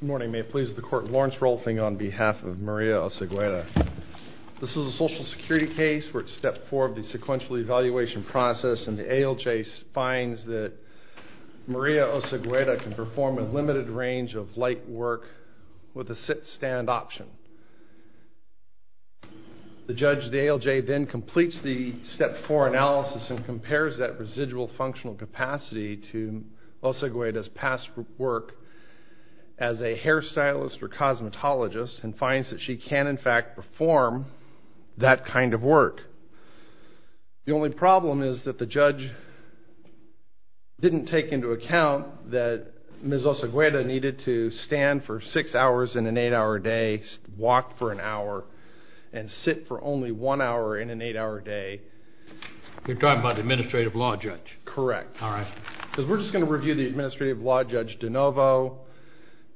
Morning, may it please the court, Lawrence Rolfing on behalf of Maria Osegueda. This is a social security case where it's step four of the sequential evaluation process and the ALJ finds that Maria Osegueda can perform a limited range of light work with a sit-stand option. The judge, the ALJ, then completes the step four analysis and compares that residual functional capacity to Osegueda's past work as a hairstylist or cosmetologist and finds that she can, in fact, perform that kind of work. The only problem is that the judge didn't take into account that Ms. Osegueda needed to stand for six hours in an eight-hour day, walk for an hour, and sit for only one hour in an eight-hour day. You're talking about the Administrative Law Judge? Correct. All right. Because we're just going to review the Administrative Law Judge DeNovo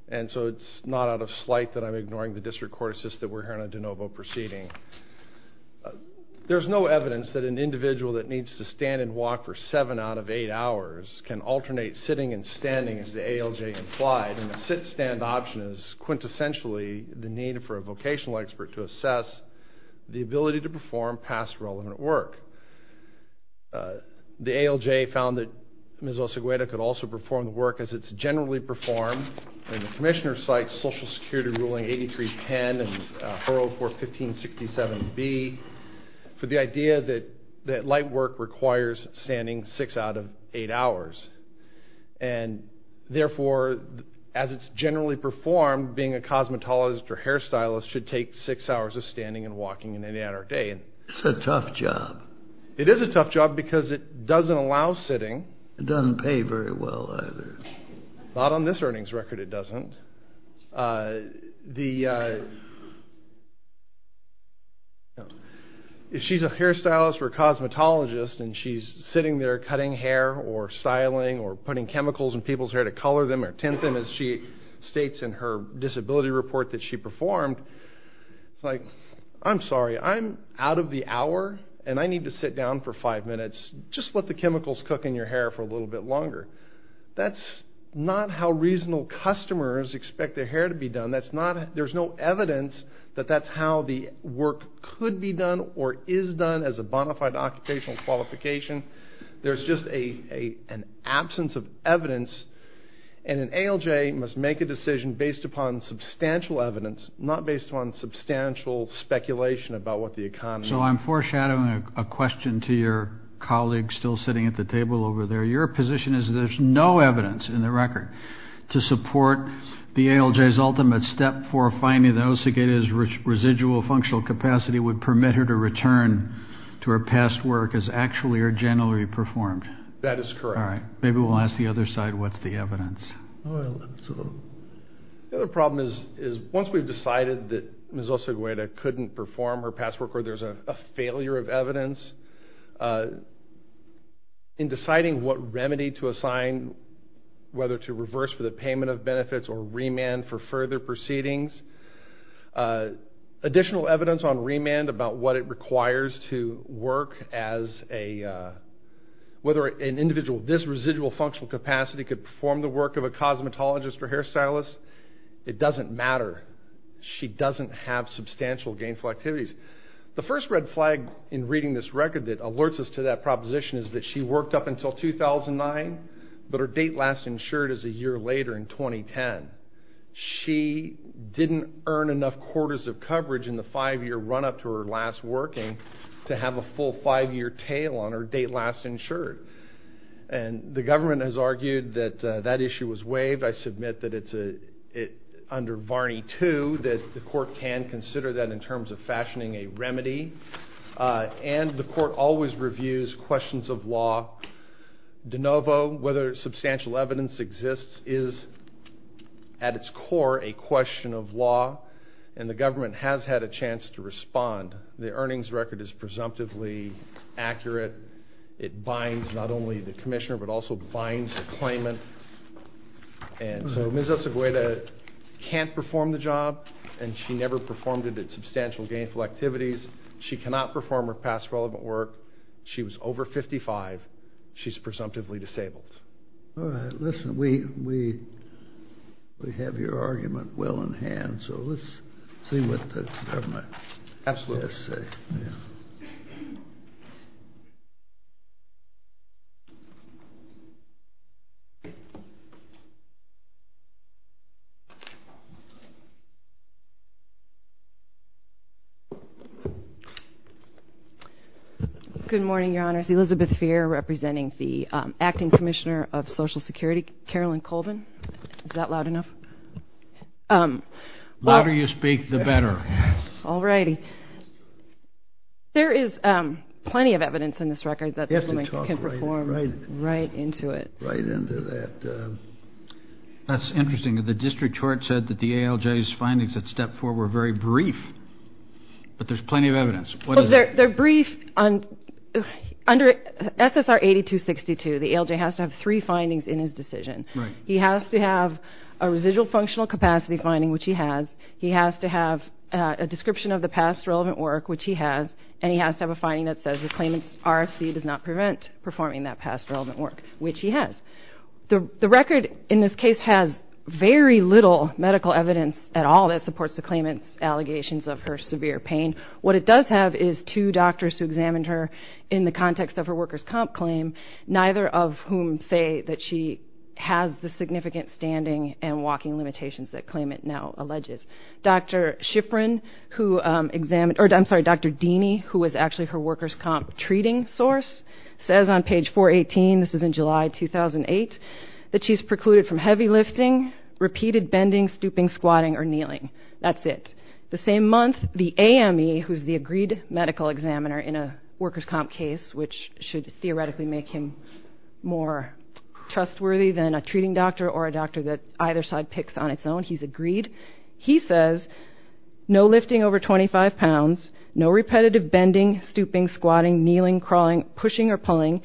and so it's not out of slight that I'm ignoring the district court assist that we're hearing on DeNovo proceeding. There's no evidence that an individual that needs to stand and walk for seven out of eight hours can alternate sitting and standing as the ALJ implied and the sit-stand option is quintessentially the need for a work. The ALJ found that Ms. Osegueda could also perform the work as it's generally performed and the commissioner cites Social Security Ruling 8310 and 404-1567-B for the idea that that light work requires standing six out of eight hours and therefore as it's generally performed being a cosmetologist or hairstylist should take six hours of standing and walking in any manner of day. It's a tough job. It is a tough job because it doesn't allow sitting. It doesn't pay very well either. Not on this earnings record it doesn't. If she's a hairstylist or a cosmetologist and she's sitting there cutting hair or styling or putting chemicals in people's hair to color them or tint them as she states in her disability report that she performed, it's like, I'm sorry, I'm out of the hour and I need to sit down for five minutes. Just let the chemicals cook in your hair for a little bit longer. That's not how reasonable customers expect their hair to be done. There's no evidence that that's how the work could be done or is done as a bona fide occupational qualification. There's just an absence of evidence and an ALJ must make a decision based upon substantial evidence not based on substantial speculation about what the economy. So I'm foreshadowing a question to your colleague still sitting at the table over there. Your position is there's no evidence in the record to support the ALJ's ultimate step for finding those who get his residual functional capacity would permit her to return to her past work as actually or generally performed. That is correct. All right, maybe we'll ask the other side what's the evidence. The other problem is is once we've decided that Ms. Osagueda couldn't perform her past work or there's a failure of evidence, in deciding what remedy to assign whether to reverse for the payment of benefits or remand for further proceedings, additional evidence on remand about what it requires to work as a whether an individual this residual functional capacity could perform the work of a cosmetologist or hairstylist, it doesn't matter. She doesn't have substantial gainful activities. The first red flag in reading this record that alerts us to that proposition is that she worked up until 2009 but her date last insured is a year later in 2010. She didn't earn enough quarters of coverage in the five-year run up to her last working to have a full five-year tail on her date last insured and the government has argued that that issue was waived. I submit that it's a it under Varney too that the court can consider that in terms of fashioning a remedy and the court always reviews questions of law de novo whether substantial evidence exists is at its core a question of law and the government has had a chance to respond. The earnings record is presumptively accurate. It binds not only the commissioner but also binds the claimant and so Ms. Osagueda can't perform the job and she never performed it at substantial gainful activities. She cannot perform her past relevant work. She was over 55. She's presumptively disabled. All right listen we we we have your argument well in hand so let's see what the government has to say. Yeah. Good morning your honors. Elizabeth Feer representing the acting commissioner of social security. Carolyn Colvin. Is that loud enough? Louder you speak the better. All righty. There is plenty of evidence in this record that this woman can perform right into it. Right into that. That's interesting the district court said that the ALJ's findings at step four were very brief but there's plenty of evidence. They're brief on under SSR 8262 the ALJ has to have three findings in his decision. Right. He has to have a residual functional capacity finding which he has. He has to have a description of the past relevant work which he has and he has to have a finding that says the claimant's RFC does not prevent performing that past relevant work which he has. The the record in this case has very little medical evidence at all that supports the claimant's allegations of her severe pain. What it does have is two doctors who examined her in the context of her workers comp claim neither of whom say that she has the significant standing and walking limitations that claimant now alleges. Dr. Shipron who examined or I'm sorry Dr. Deeney who was actually her workers comp treating source says on page 418 this is in July 2008 that she's precluded from heavy lifting repeated bending stooping squatting or kneeling. That's it. The same month the AME who's the agreed medical examiner in a workers comp case which should theoretically make him more trustworthy than a treating doctor or a doctor that either side picks on its own he's agreed he says no lifting over 25 pounds no repetitive bending stooping squatting kneeling crawling pushing or pulling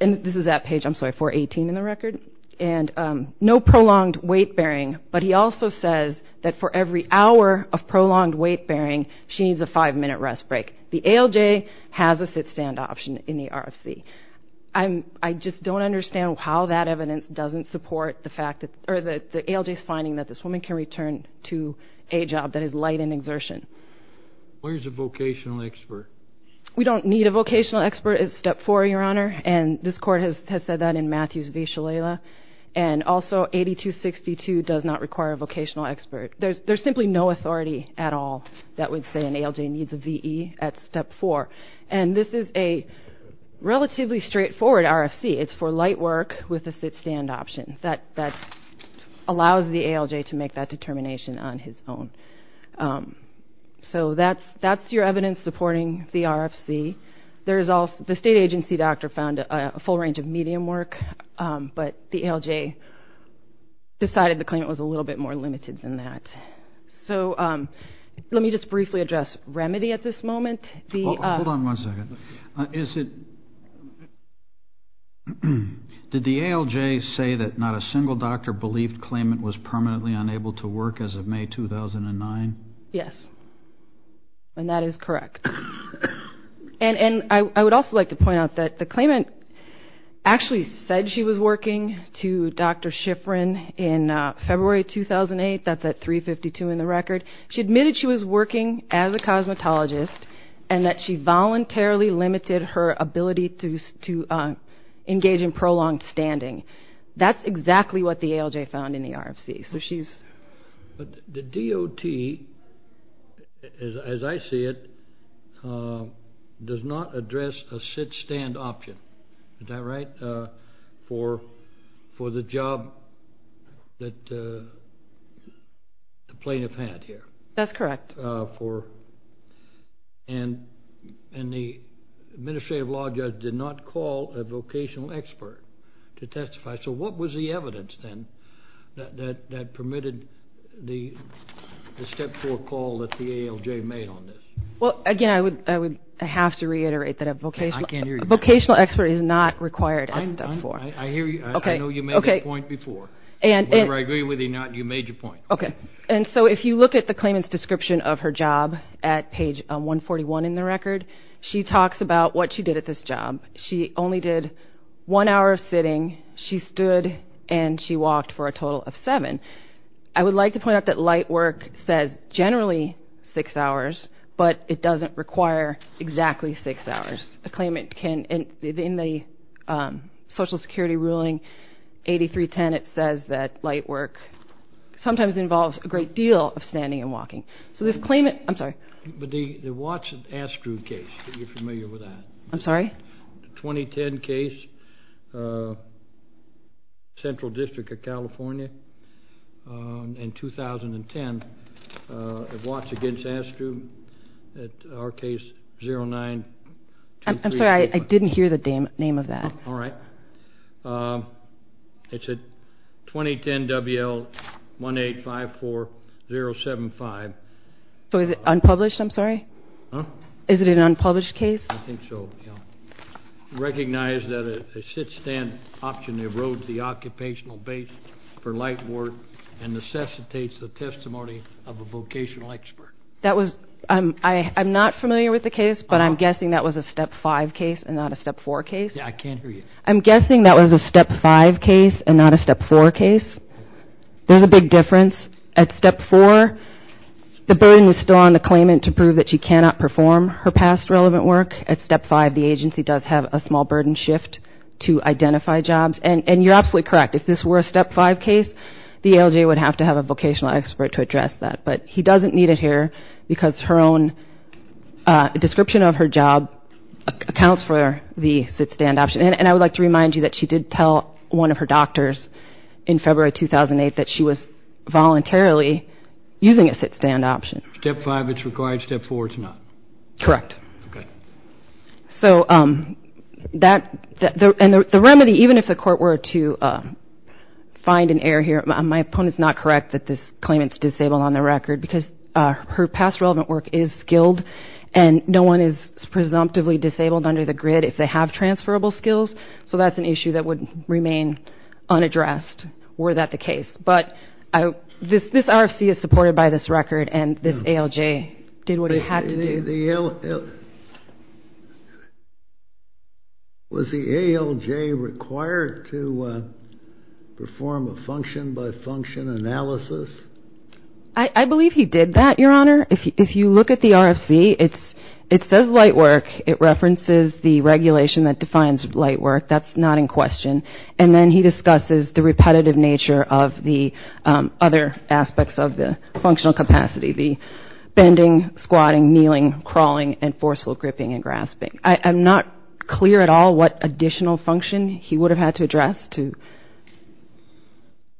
and this is that page I'm sorry 418 in the record and no prolonged weight bearing but he also says that for every hour of prolonged weight bearing she needs a five-minute rest break. The ALJ has a sit-stand option in the RFC. I'm I just don't understand how that evidence doesn't support the fact that or that the ALJ is finding that this woman can return to a job that is light and exertion. Where's a vocational expert? We don't need a vocational expert at step four your honor and this court has has said that in Matthews v Shalala and also 8262 does not require a vocational expert. There's there's simply no authority at all that would say an ALJ needs a VE at step four and this is a relatively straightforward RFC. It's for light work with a sit-stand option that that allows the ALJ to make that determination on his own. So that's that's your evidence supporting the RFC. There's also the state agency doctor found a full range of medium work but the ALJ decided the claimant was a little bit more limited than that. So let me just briefly address remedy at this moment. Hold on one second is it did the ALJ say that not a single doctor believed claimant was permanently unable to work as of May 2009? Yes and that is correct and and I would also like to point out that the claimant actually said she was working to Dr. Shifrin in February 2008. That's at 352 in the record. She admitted she was working as a cosmetologist and that she voluntarily limited her ability to to engage in prolonged standing. That's exactly what the ALJ found in the RFC. So she's but the DOT as I see it does not address a sit-stand option. Is that right for for the job that the plaintiff had here? That's correct. For and and the administrative law judge did not call a vocational expert to testify. So what was the evidence then that that permitted the step four call that the ALJ made on this? Well again I would I would have to reiterate that a vocational vocational expert is not required at step four. I hear you. I know you made a point before and whatever I agree with you not you made your point. Okay and so if you look at the claimant's description of her job at page 141 in the record she talks about what she did at this job. She only did one hour of sitting. She stood and she walked for a total of seven. I would like to point out that light work says generally six hours but it doesn't require exactly six hours. The claimant can and in the social security ruling 8310 it says that light work sometimes involves a great deal of standing and walking. So this claimant I'm sorry. But the the Watson Astru case if you're familiar with that. I'm sorry. The 2010 case Central District of California in 2010 at Watson against Astru at our case 0923. I'm sorry I didn't hear the name name of that. All right it's a 2010 WL 1854075. So is it unpublished I'm sorry? Is it an unpublished case? I think so yeah. Recognize that a sit-stand option erodes the occupational base for light work and necessitates the testimony of a vocational expert. That was I'm I'm not familiar with the case but I'm guessing that was a step five case and not a step four case. Yeah I can't hear you. I'm guessing that was a step five case and not a step four case. There's a big difference at step four the burden is still on the claimant to prove that she cannot perform her past relevant work. At step five the agency does have a small burden shift to identify jobs and and you're absolutely correct if this were a step five case the ALJ would have to have a vocational expert to address that. But he doesn't need it here because her own description of her job accounts for the sit-stand option. And I would like to remind you that she did tell one of her doctors in February 2008 that she was voluntarily using a sit-stand option. Step five it's required, step four it's not. Correct. Okay. So um that the and the remedy even if the court were to uh find an error here my opponent's not correct that this claimant's disabled on the record because uh her past relevant work is skilled and no one is presumptively disabled under the grid if they have transferable skills so that's an issue that would remain unaddressed were that the case but I this this RFC is supported by this record and this ALJ did what it had to do. Was the ALJ required to perform a function by function analysis? I believe he did that your honor if you look at the RFC it's it says light work it references the regulation that defines light work that's not in question and then he discusses the repetitive nature of the other aspects of the functional capacity the bending, squatting, kneeling, crawling, and forceful gripping and grasping. I'm not clear at all what additional function he would have had to address to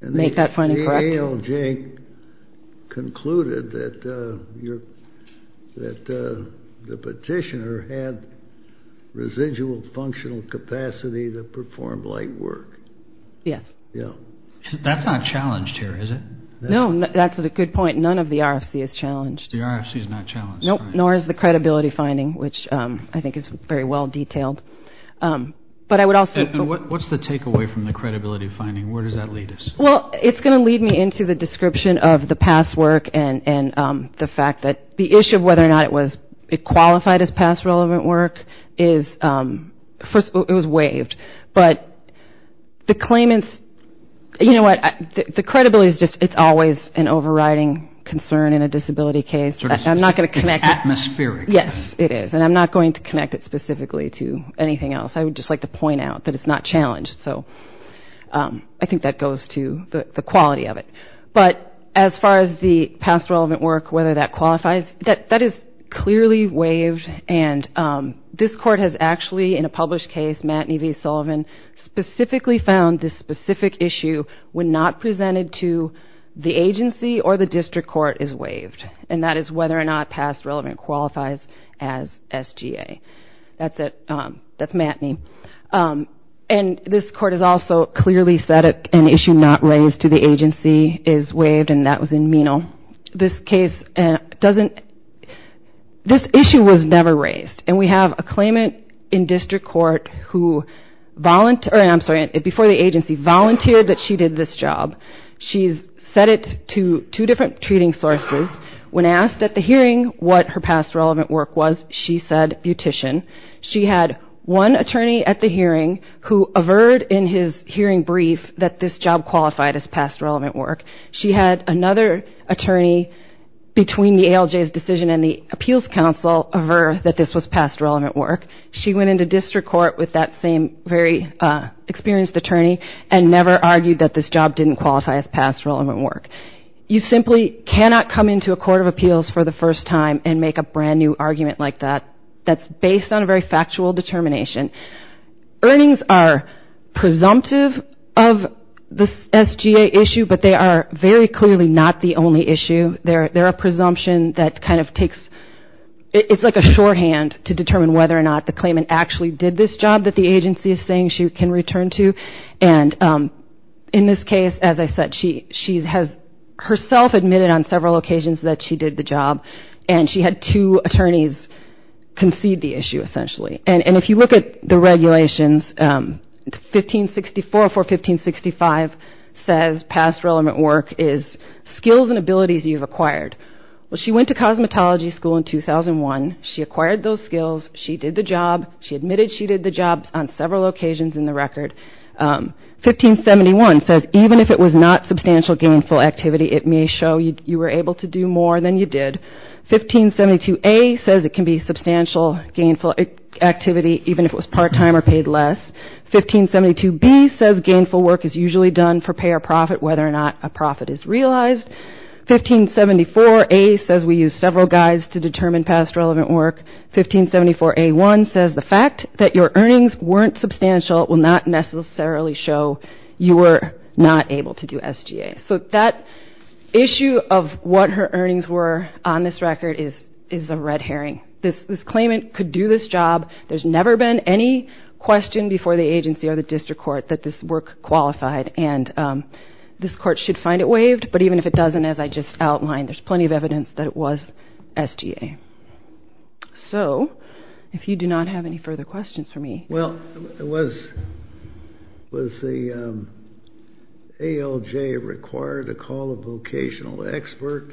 make that finding correct. The ALJ concluded that uh capacity to perform light work. Yes. Yeah. That's not challenged here is it? No that's a good point none of the RFC is challenged. The RFC is not challenged. Nope nor is the credibility finding which um I think is very well detailed um but I would also. What's the takeaway from the credibility finding where does that lead us? Well it's going to lead me into the description of the past work and and um the fact that the issue of whether or not it was it qualified as past relevant work is um first it was waived but the claimants you know what the credibility is just it's always an overriding concern in a disability case. I'm not going to connect. It's atmospheric. Yes it is and I'm not going to connect it specifically to anything else I would just like to point out that it's not challenged so um I think that goes to the quality of it but as far as the past relevant work whether that qualifies that that is clearly waived and um this court has actually in a published case Matney v Sullivan specifically found this specific issue when not presented to the agency or the district court is waived and that is whether or not past relevant qualifies as SGA. That's it um that's Matney um and this court has also clearly said an issue not raised to the agency is waived and that was in Menal. This case and doesn't this issue was never raised and we have a claimant in district court who volunteer I'm sorry before the agency volunteered that she did this job. She's said it to two different treating sources when asked at the hearing what her past relevant work was she said beautician. She had one attorney at the hearing who averred in his hearing brief that this job qualified as past relevant work. She had another attorney between the ALJ's decision and the appeals council of her that this was past relevant work. She went into district court with that same very uh experienced attorney and never argued that this job didn't qualify as past relevant work. You simply cannot come into a court of appeals for the first time and make a brand new argument like that that's based on a very factual determination. Earnings are presumptive of the SGA issue but they are very clearly not the only issue. They're they're a presumption that kind of takes it's like a shorthand to determine whether or not the claimant actually did this job that the agency is saying she can return to and um in this case as I said she she has herself admitted on several occasions that she did the job and she had two attorneys concede the issue 1565 says past relevant work is skills and abilities you've acquired. Well she went to cosmetology school in 2001. She acquired those skills. She did the job. She admitted she did the job on several occasions in the record. 1571 says even if it was not substantial gainful activity it may show you were able to do more than you did. 1572A says it can be substantial gainful activity even if it was part-time or paid less. 1572B says gainful work is usually done for pay or profit whether or not a profit is realized. 1574A says we use several guides to determine past relevant work. 1574A1 says the fact that your earnings weren't substantial will not necessarily show you were not able to do SGA. So that issue of what her earnings were on this hearing. This claimant could do this job. There's never been any question before the agency or the district court that this work qualified and this court should find it waived but even if it doesn't as I just outlined there's plenty of evidence that it was SGA. So if you do not have any further questions for me. Well was the ALJ required to call a vocational expert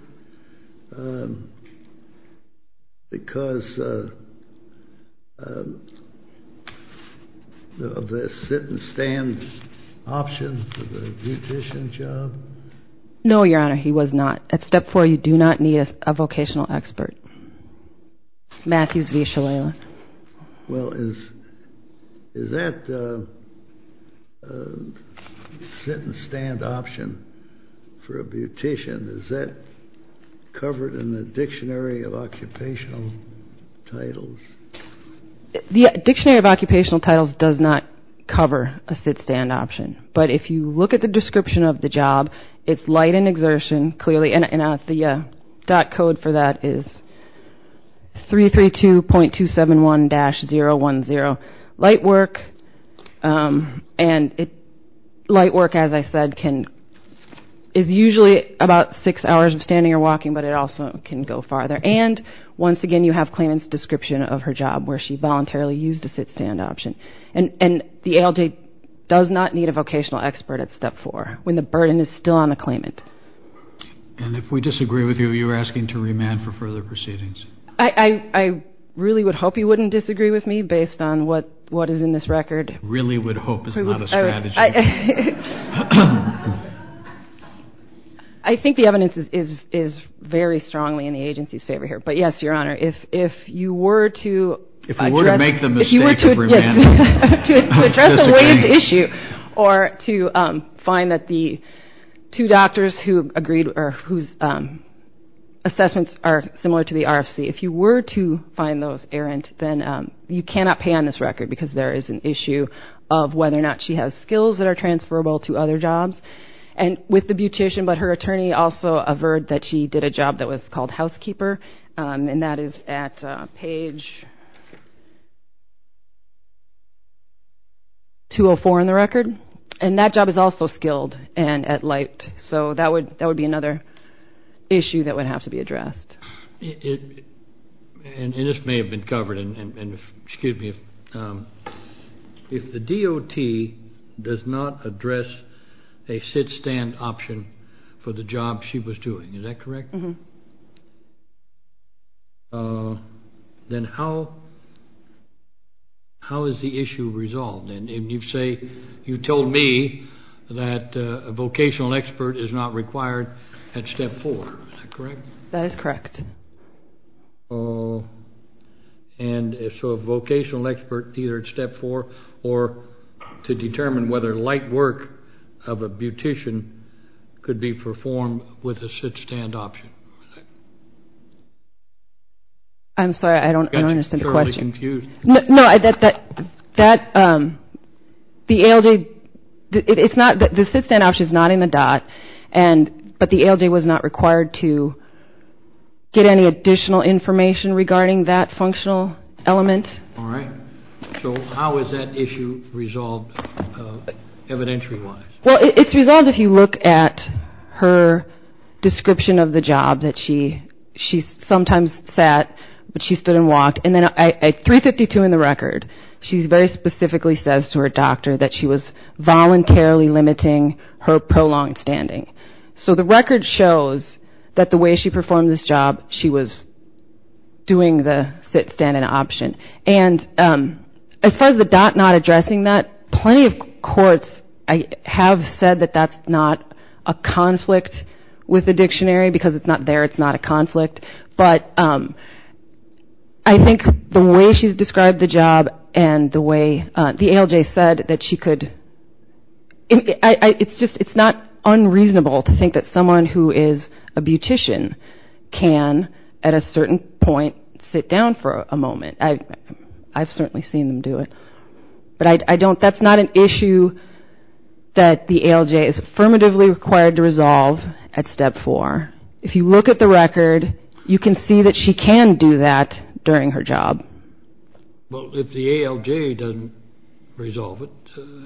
because of the sit and stand option for the beautician job? No your honor he was not. At step four you do not need a vocational expert. Matthews v. Shalala. Well is is that sit and stand option for a beautician is that covered in the dictionary of occupational titles? The dictionary of occupational titles does not cover a sit stand option but if you look at the description of the job it's light and exertion clearly and the dot code for that is 332.271-010 light work and it light work as I said can is usually about six hours of standing or walking but it also can go farther and once again you have claimants description of her job where she voluntarily used a sit stand option and and the ALJ does not need a vocational expert at step four when the burden is still on the claimant. And if we disagree with you you're asking to remand for further proceedings? I really would hope you wouldn't disagree with me based on what what is in this record. Really would hope is not a strategy. I think the evidence is is is very strongly in the agency's favor here but yes your honor if if you were to. If we were to make the mistake of remanding. To address a waived issue or to find that the two doctors who agreed or whose assessments are similar to the RFC if you were to find those errant then you cannot pay on this record because there is an issue of whether or not she has skills that are transferable to other jobs and with the beautician but her attorney also averred that she did a job that was called housekeeper and that is at page 204 in the record and that job is also skilled and at light so that would that would be another issue that would have to be addressed. It and this may have been covered and and excuse me if the DOT does not address a sit stand option for the job she was doing is that correct? Then how how is the issue resolved and you say you told me that a vocational expert is not required at step four is that correct? That is correct. And so a vocational expert either at step four or to determine whether light work of a beautician could be performed with a sit stand option. I'm sorry I don't understand the question. No I that that that the ALJ it's not that the sit stand option is not in the DOT and but the ALJ was not required to get any additional information regarding that functional element. All right so how is that issue resolved evidentiary wise? Well it's resolved if you look at her description of the job that she she sometimes sat but she stood and walked and then at 352 in the record she's very specifically says to her doctor that she was voluntarily limiting her prolonged standing. So the record shows that the way she performed this job she was doing the sit stand an option and as far as the DOT not said that that's not a conflict with the dictionary because it's not there it's not a conflict. But I think the way she's described the job and the way the ALJ said that she could it's just it's not unreasonable to think that someone who is a beautician can at a certain point sit down for a moment. I've certainly seen them do it but I don't that's not an issue that the ALJ is affirmatively required to resolve at step four. If you look at the record you can see that she can do that during her job. Well if the ALJ doesn't resolve it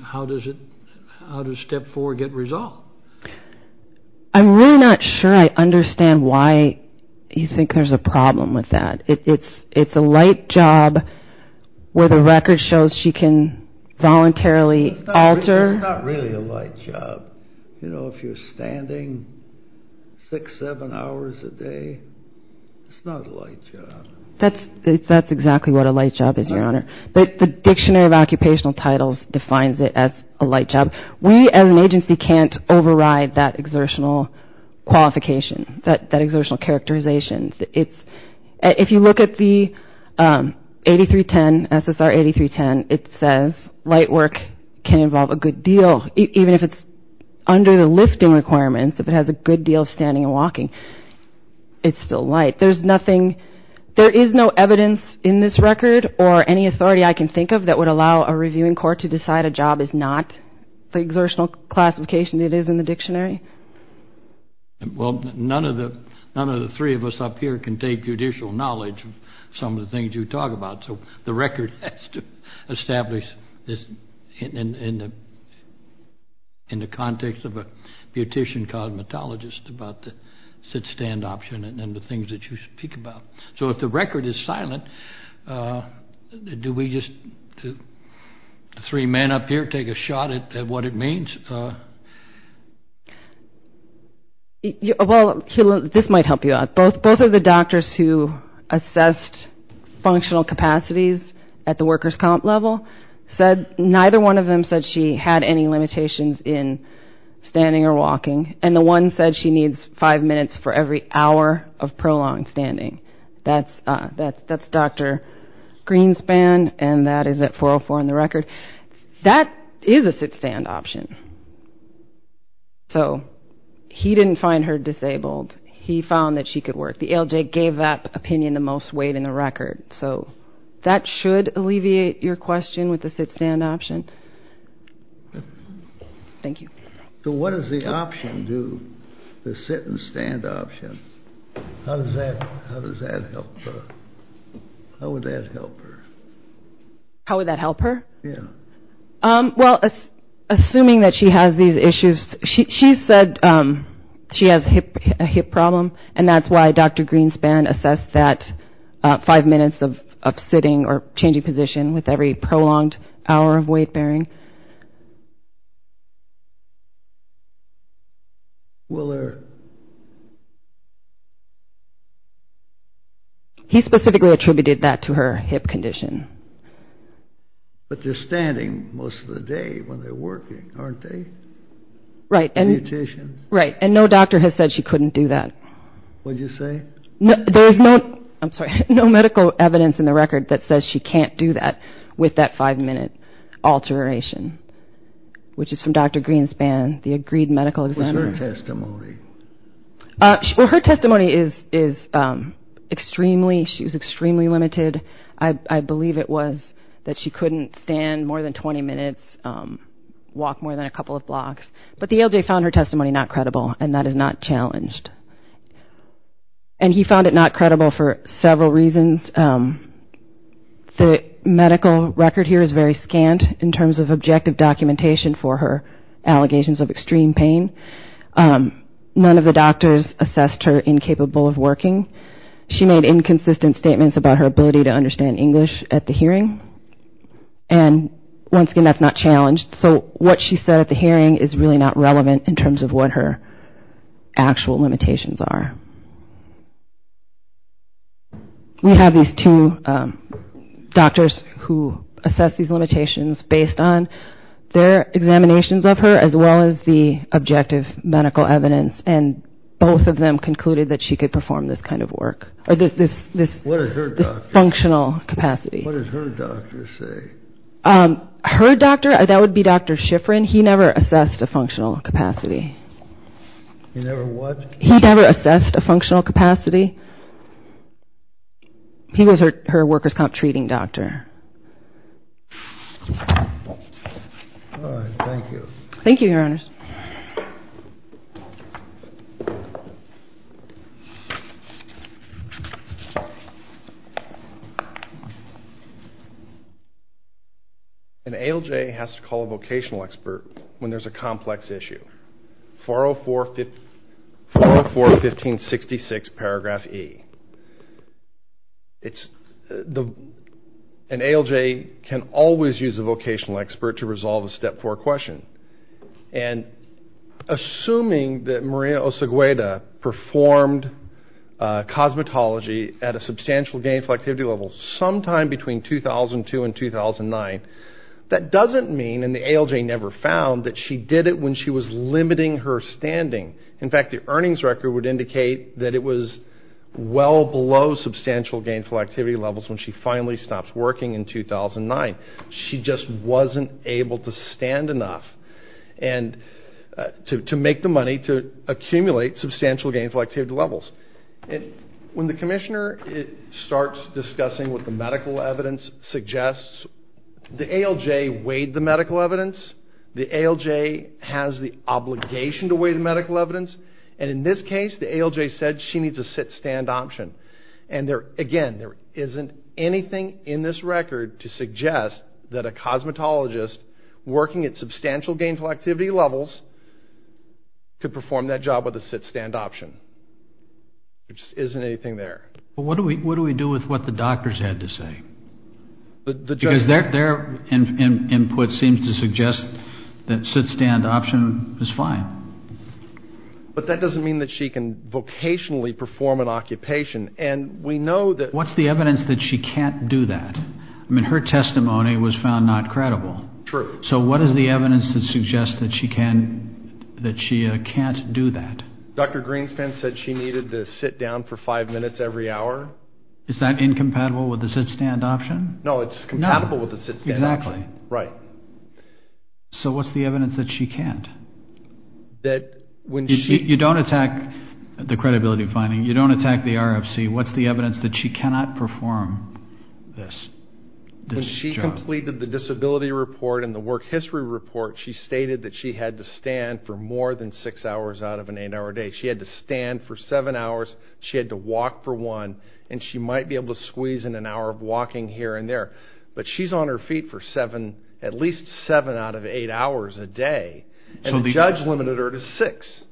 how does it how does step four get resolved? I'm really not sure I understand why you think there's a problem with that it's it's a light job where the record shows she can voluntarily alter. It's not really a light job you know if you're standing six seven hours a day it's not a light job. That's that's exactly what a light job is your honor but the dictionary of occupational titles defines it as a light job. We as an agency can't override that exertional qualification that that exertional characterization. It's if you look at the 8310 SSR 8310 it says light work can involve a good deal even if it's under the lifting requirements if it has a good deal of standing and walking it's still light. There's nothing there is no evidence in this record or any authority I can think of that would allow a reviewing court to decide a job is not the exertional classification it is in the dictionary. Well none of the none of the three of us up here can take judicial knowledge of some of the things you talk about so the record has to establish this in the in the context of a beautician cosmetologist about the sit-stand option and the things that you speak about. So if the record is silent do we just three men up here take a shot at what it means? Well this might help you out both both of the doctors who assessed functional capacities at the workers comp level said neither one of them said she had any limitations in standing or walking and the one said she needs five minutes for every hour of prolonged standing. That's Dr. Greenspan and that is at 404 in the record that is a sit-stand option so he didn't find her disabled he found that she could work the LJ gave that opinion the most weight in the record so that should alleviate your question with the sit-stand option. Thank you. So what does the option do the sit and stand option how does that how does that help her how would that help her? How would that help her? Yeah well assuming that she has these issues she said she has a hip problem and that's why Dr. Greenspan assessed that five minutes of sitting or changing position with every prolonged hour of weight-bearing. He specifically attributed that to her hip condition. But they're standing most of the day when they're working aren't they? Right and right and no doctor has said she couldn't do that. What'd you say? There's no I'm sorry no medical evidence in the record that says she can't do that with that five minute alteration which is from Dr. Greenspan the agreed medical examiner. What's her testimony? Well her testimony is extremely she was extremely limited I believe it was that she couldn't stand more than 20 minutes walk more than a couple of minutes and that's not challenged and he found it not credible for several reasons. The medical record here is very scant in terms of objective documentation for her allegations of extreme pain. None of the doctors assessed her incapable of working. She made inconsistent statements about her ability to understand English at the hearing and once again that's not challenged so what she said at the actual limitations are. We have these two doctors who assess these limitations based on their examinations of her as well as the objective medical evidence and both of them concluded that she could perform this kind of work or this this this functional capacity. What does her doctor say? Her doctor that would be Dr. Shiffrin. He never assessed a functional capacity. He never what? He never assessed a functional capacity. He was her her workers comp treating doctor. All right thank you. Thank you your honors. An ALJ has to call a vocational expert when there's a complex issue. 404 50 404 1566 paragraph e. It's the an ALJ can always use a vocational expert to resolve a step four question and assuming that Maria Osegueda performed cosmetology at a substantial gainful activity level sometime between 2002 and 2009 that doesn't mean and the ALJ never found that she did it when she was limiting her standing. In fact the earnings record would indicate that it was well below substantial gainful activity levels when she finally stopped working in 2009. She just wasn't able to stand enough and to make the money to accumulate substantial gainful activity levels and when the commissioner it starts discussing what the medical evidence suggests the ALJ weighed the medical evidence the ALJ has the obligation to weigh the medical evidence and in this case the ALJ said she needs a sit-stand option and there again there isn't anything in this record to suggest that a cosmetologist working at substantial gainful activity levels could perform that job with a sit-stand option. There just isn't anything there. But what do we what do we do with what the doctors had to say? Because their input seems to suggest that sit-stand option is fine. But that doesn't mean that she can vocationally perform an occupation and we know that. What's the evidence that she can't do that? I mean her testimony was found not credible. True. So what is the evidence that suggests that she can that she can't do that? Dr. Greenspan said she needed to sit down for five minutes every hour. Is that incompatible with the sit-stand option? No it's compatible with the sit-stand option. Exactly. Right. So what's the evidence that she can't? That when she... You don't attack the credibility finding you don't attack the RFC. What's the evidence that she cannot perform this? When she completed the disability report and the work history report she stated that she had to stand for more than six hours out of an eight hour day. She had to stand for seven hours. She had to walk for one and she might be able to squeeze in an hour of walking here and there. But she's on her feet for seven at least seven out of eight hours a day. So the judge limited her to six.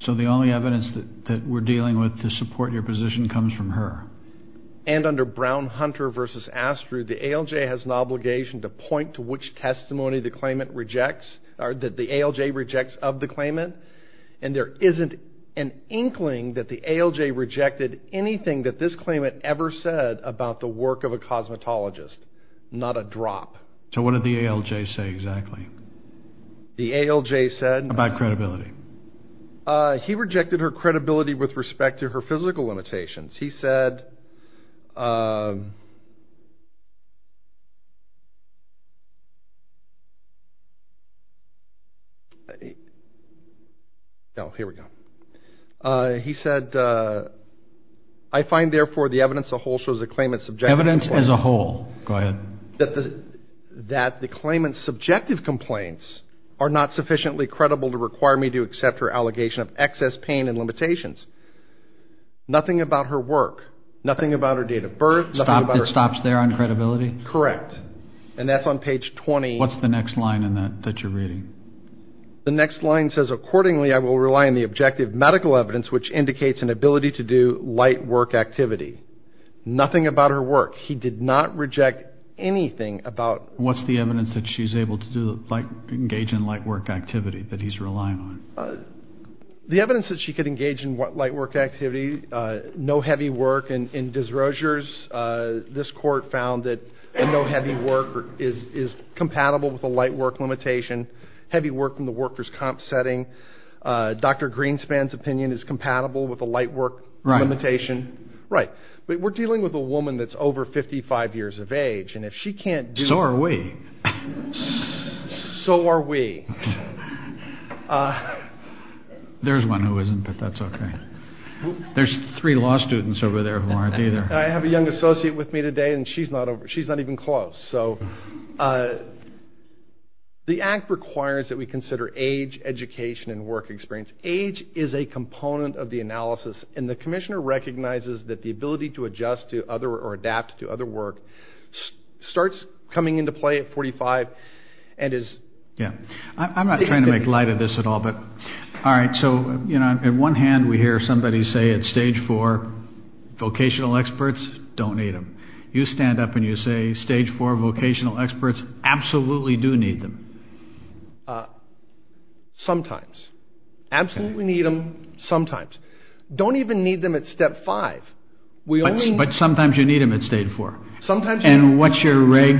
So the only evidence that that we're dealing with to support your position comes from her? And under Brown-Hunter versus Astru the ALJ has an obligation to point to which testimony the claimant rejects or that the ALJ rejects of the claimant and there isn't an inkling that the ALJ rejected anything that this claimant ever said about the work of a cosmetologist. Not a drop. So what did the ALJ say exactly? The ALJ said... About credibility. He rejected her credibility with respect to her physical limitations. He said... No here we go. He said I find therefore the evidence the whole shows the claimant's subjective... Evidence as a whole. Go ahead. That the claimant's subjective complaints are not sufficiently credible to require me to accept her allegation of excess pain and limitations. Nothing about her work. Nothing about her date of birth. It stops there on credibility? Correct. And that's on page 20. What's the next line in that that you're reading? The next line says... Nothing about her work. He did not reject anything about... What's the evidence that she's able to do like engage in light work activity that he's relying on? The evidence that she could engage in what light work activity? No heavy work and in Desrosiers this court found that no heavy work is compatible with a light work limitation. Heavy work in the workers comp setting. Dr. Greenspan's opinion is compatible with a light work limitation. Right. But we're dealing with a woman that's over 55 years of age and if she can't do... So are we. So are we. There's one who isn't but that's okay. There's three law students over there who aren't either. I have a young associate with me today and she's not even close. So the act requires that we consider age, education, and work experience. Age is a component of the analysis and the commissioner recognizes that the ability to adjust to other or adapt to other work starts coming into play at 45 and is... Yeah. I'm not trying to make light of this at all but all right so you know in one hand we hear somebody say at stage four vocational experts don't need them. You stand up and you say stage four vocational experts absolutely do need them. Sometimes. Absolutely need them sometimes. Don't even need them at step five. But sometimes you need them at stage four. Sometimes. And what's your reg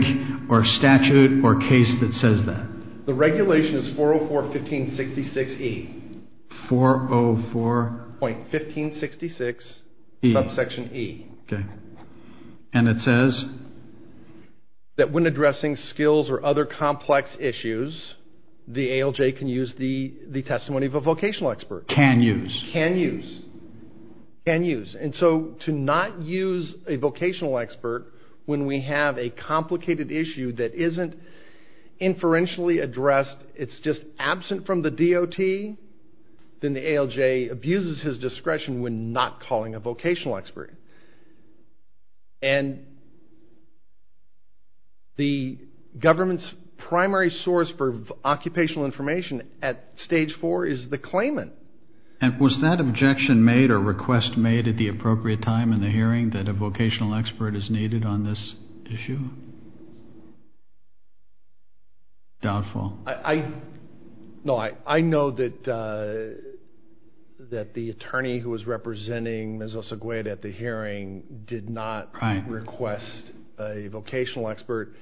or statute or case that says that? The regulation is 404 1566 E. 404... Point 1566 E. Subsection E. Okay and it says that when addressing skills or other complex issues the ALJ can use the the testimony of a vocational expert. Can use. Can use. Can use. And so to not use a vocational expert when we have a complicated issue that isn't inferentially addressed it's just absent from the DOT then the ALJ abuses his discretion when not calling a vocational expert. And the government's primary source for occupational information at stage four is the claimant. And was that objection made or request made at the appropriate time in the hearing that a vocational expert is needed on this issue? Doubtful. No I know that the attorney who was representing Ms. Osegueda at the hearing did not request a vocational expert.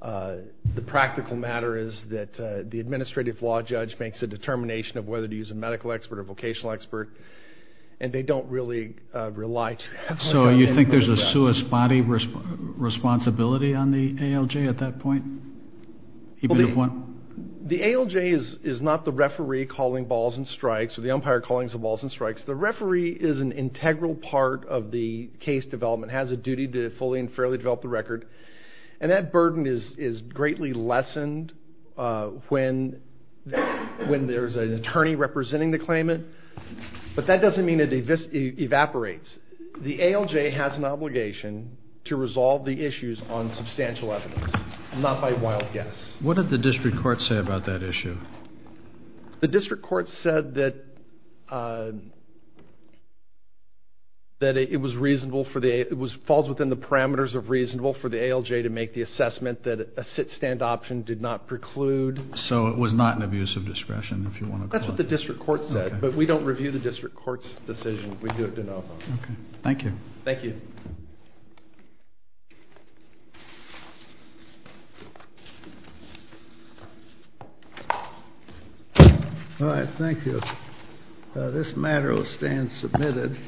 The practical matter is that the administrative law judge makes a determination of whether to a vocational expert and they don't really rely to that. So you think there's a suus body responsibility on the ALJ at that point? The ALJ is is not the referee calling balls and strikes or the umpire calling the balls and strikes. The referee is an integral part of the case development has a duty to fully and fairly develop the record and that burden is is greatly lessened when when there's an attorney representing the claimant. But that doesn't mean it evaporates. The ALJ has an obligation to resolve the issues on substantial evidence not by wild guess. What did the district court say about that issue? The district court said that that it was reasonable for the it was falls within the parameters of reasonable for the ALJ to make the assessment that a sit-stand option did not preclude. So it was not an abuse of discretion if you want to. That's what the district court said but we don't review the district court's decision. We do it de novo. Okay thank you. Thank you. All right thank you. This matter will stand submitted.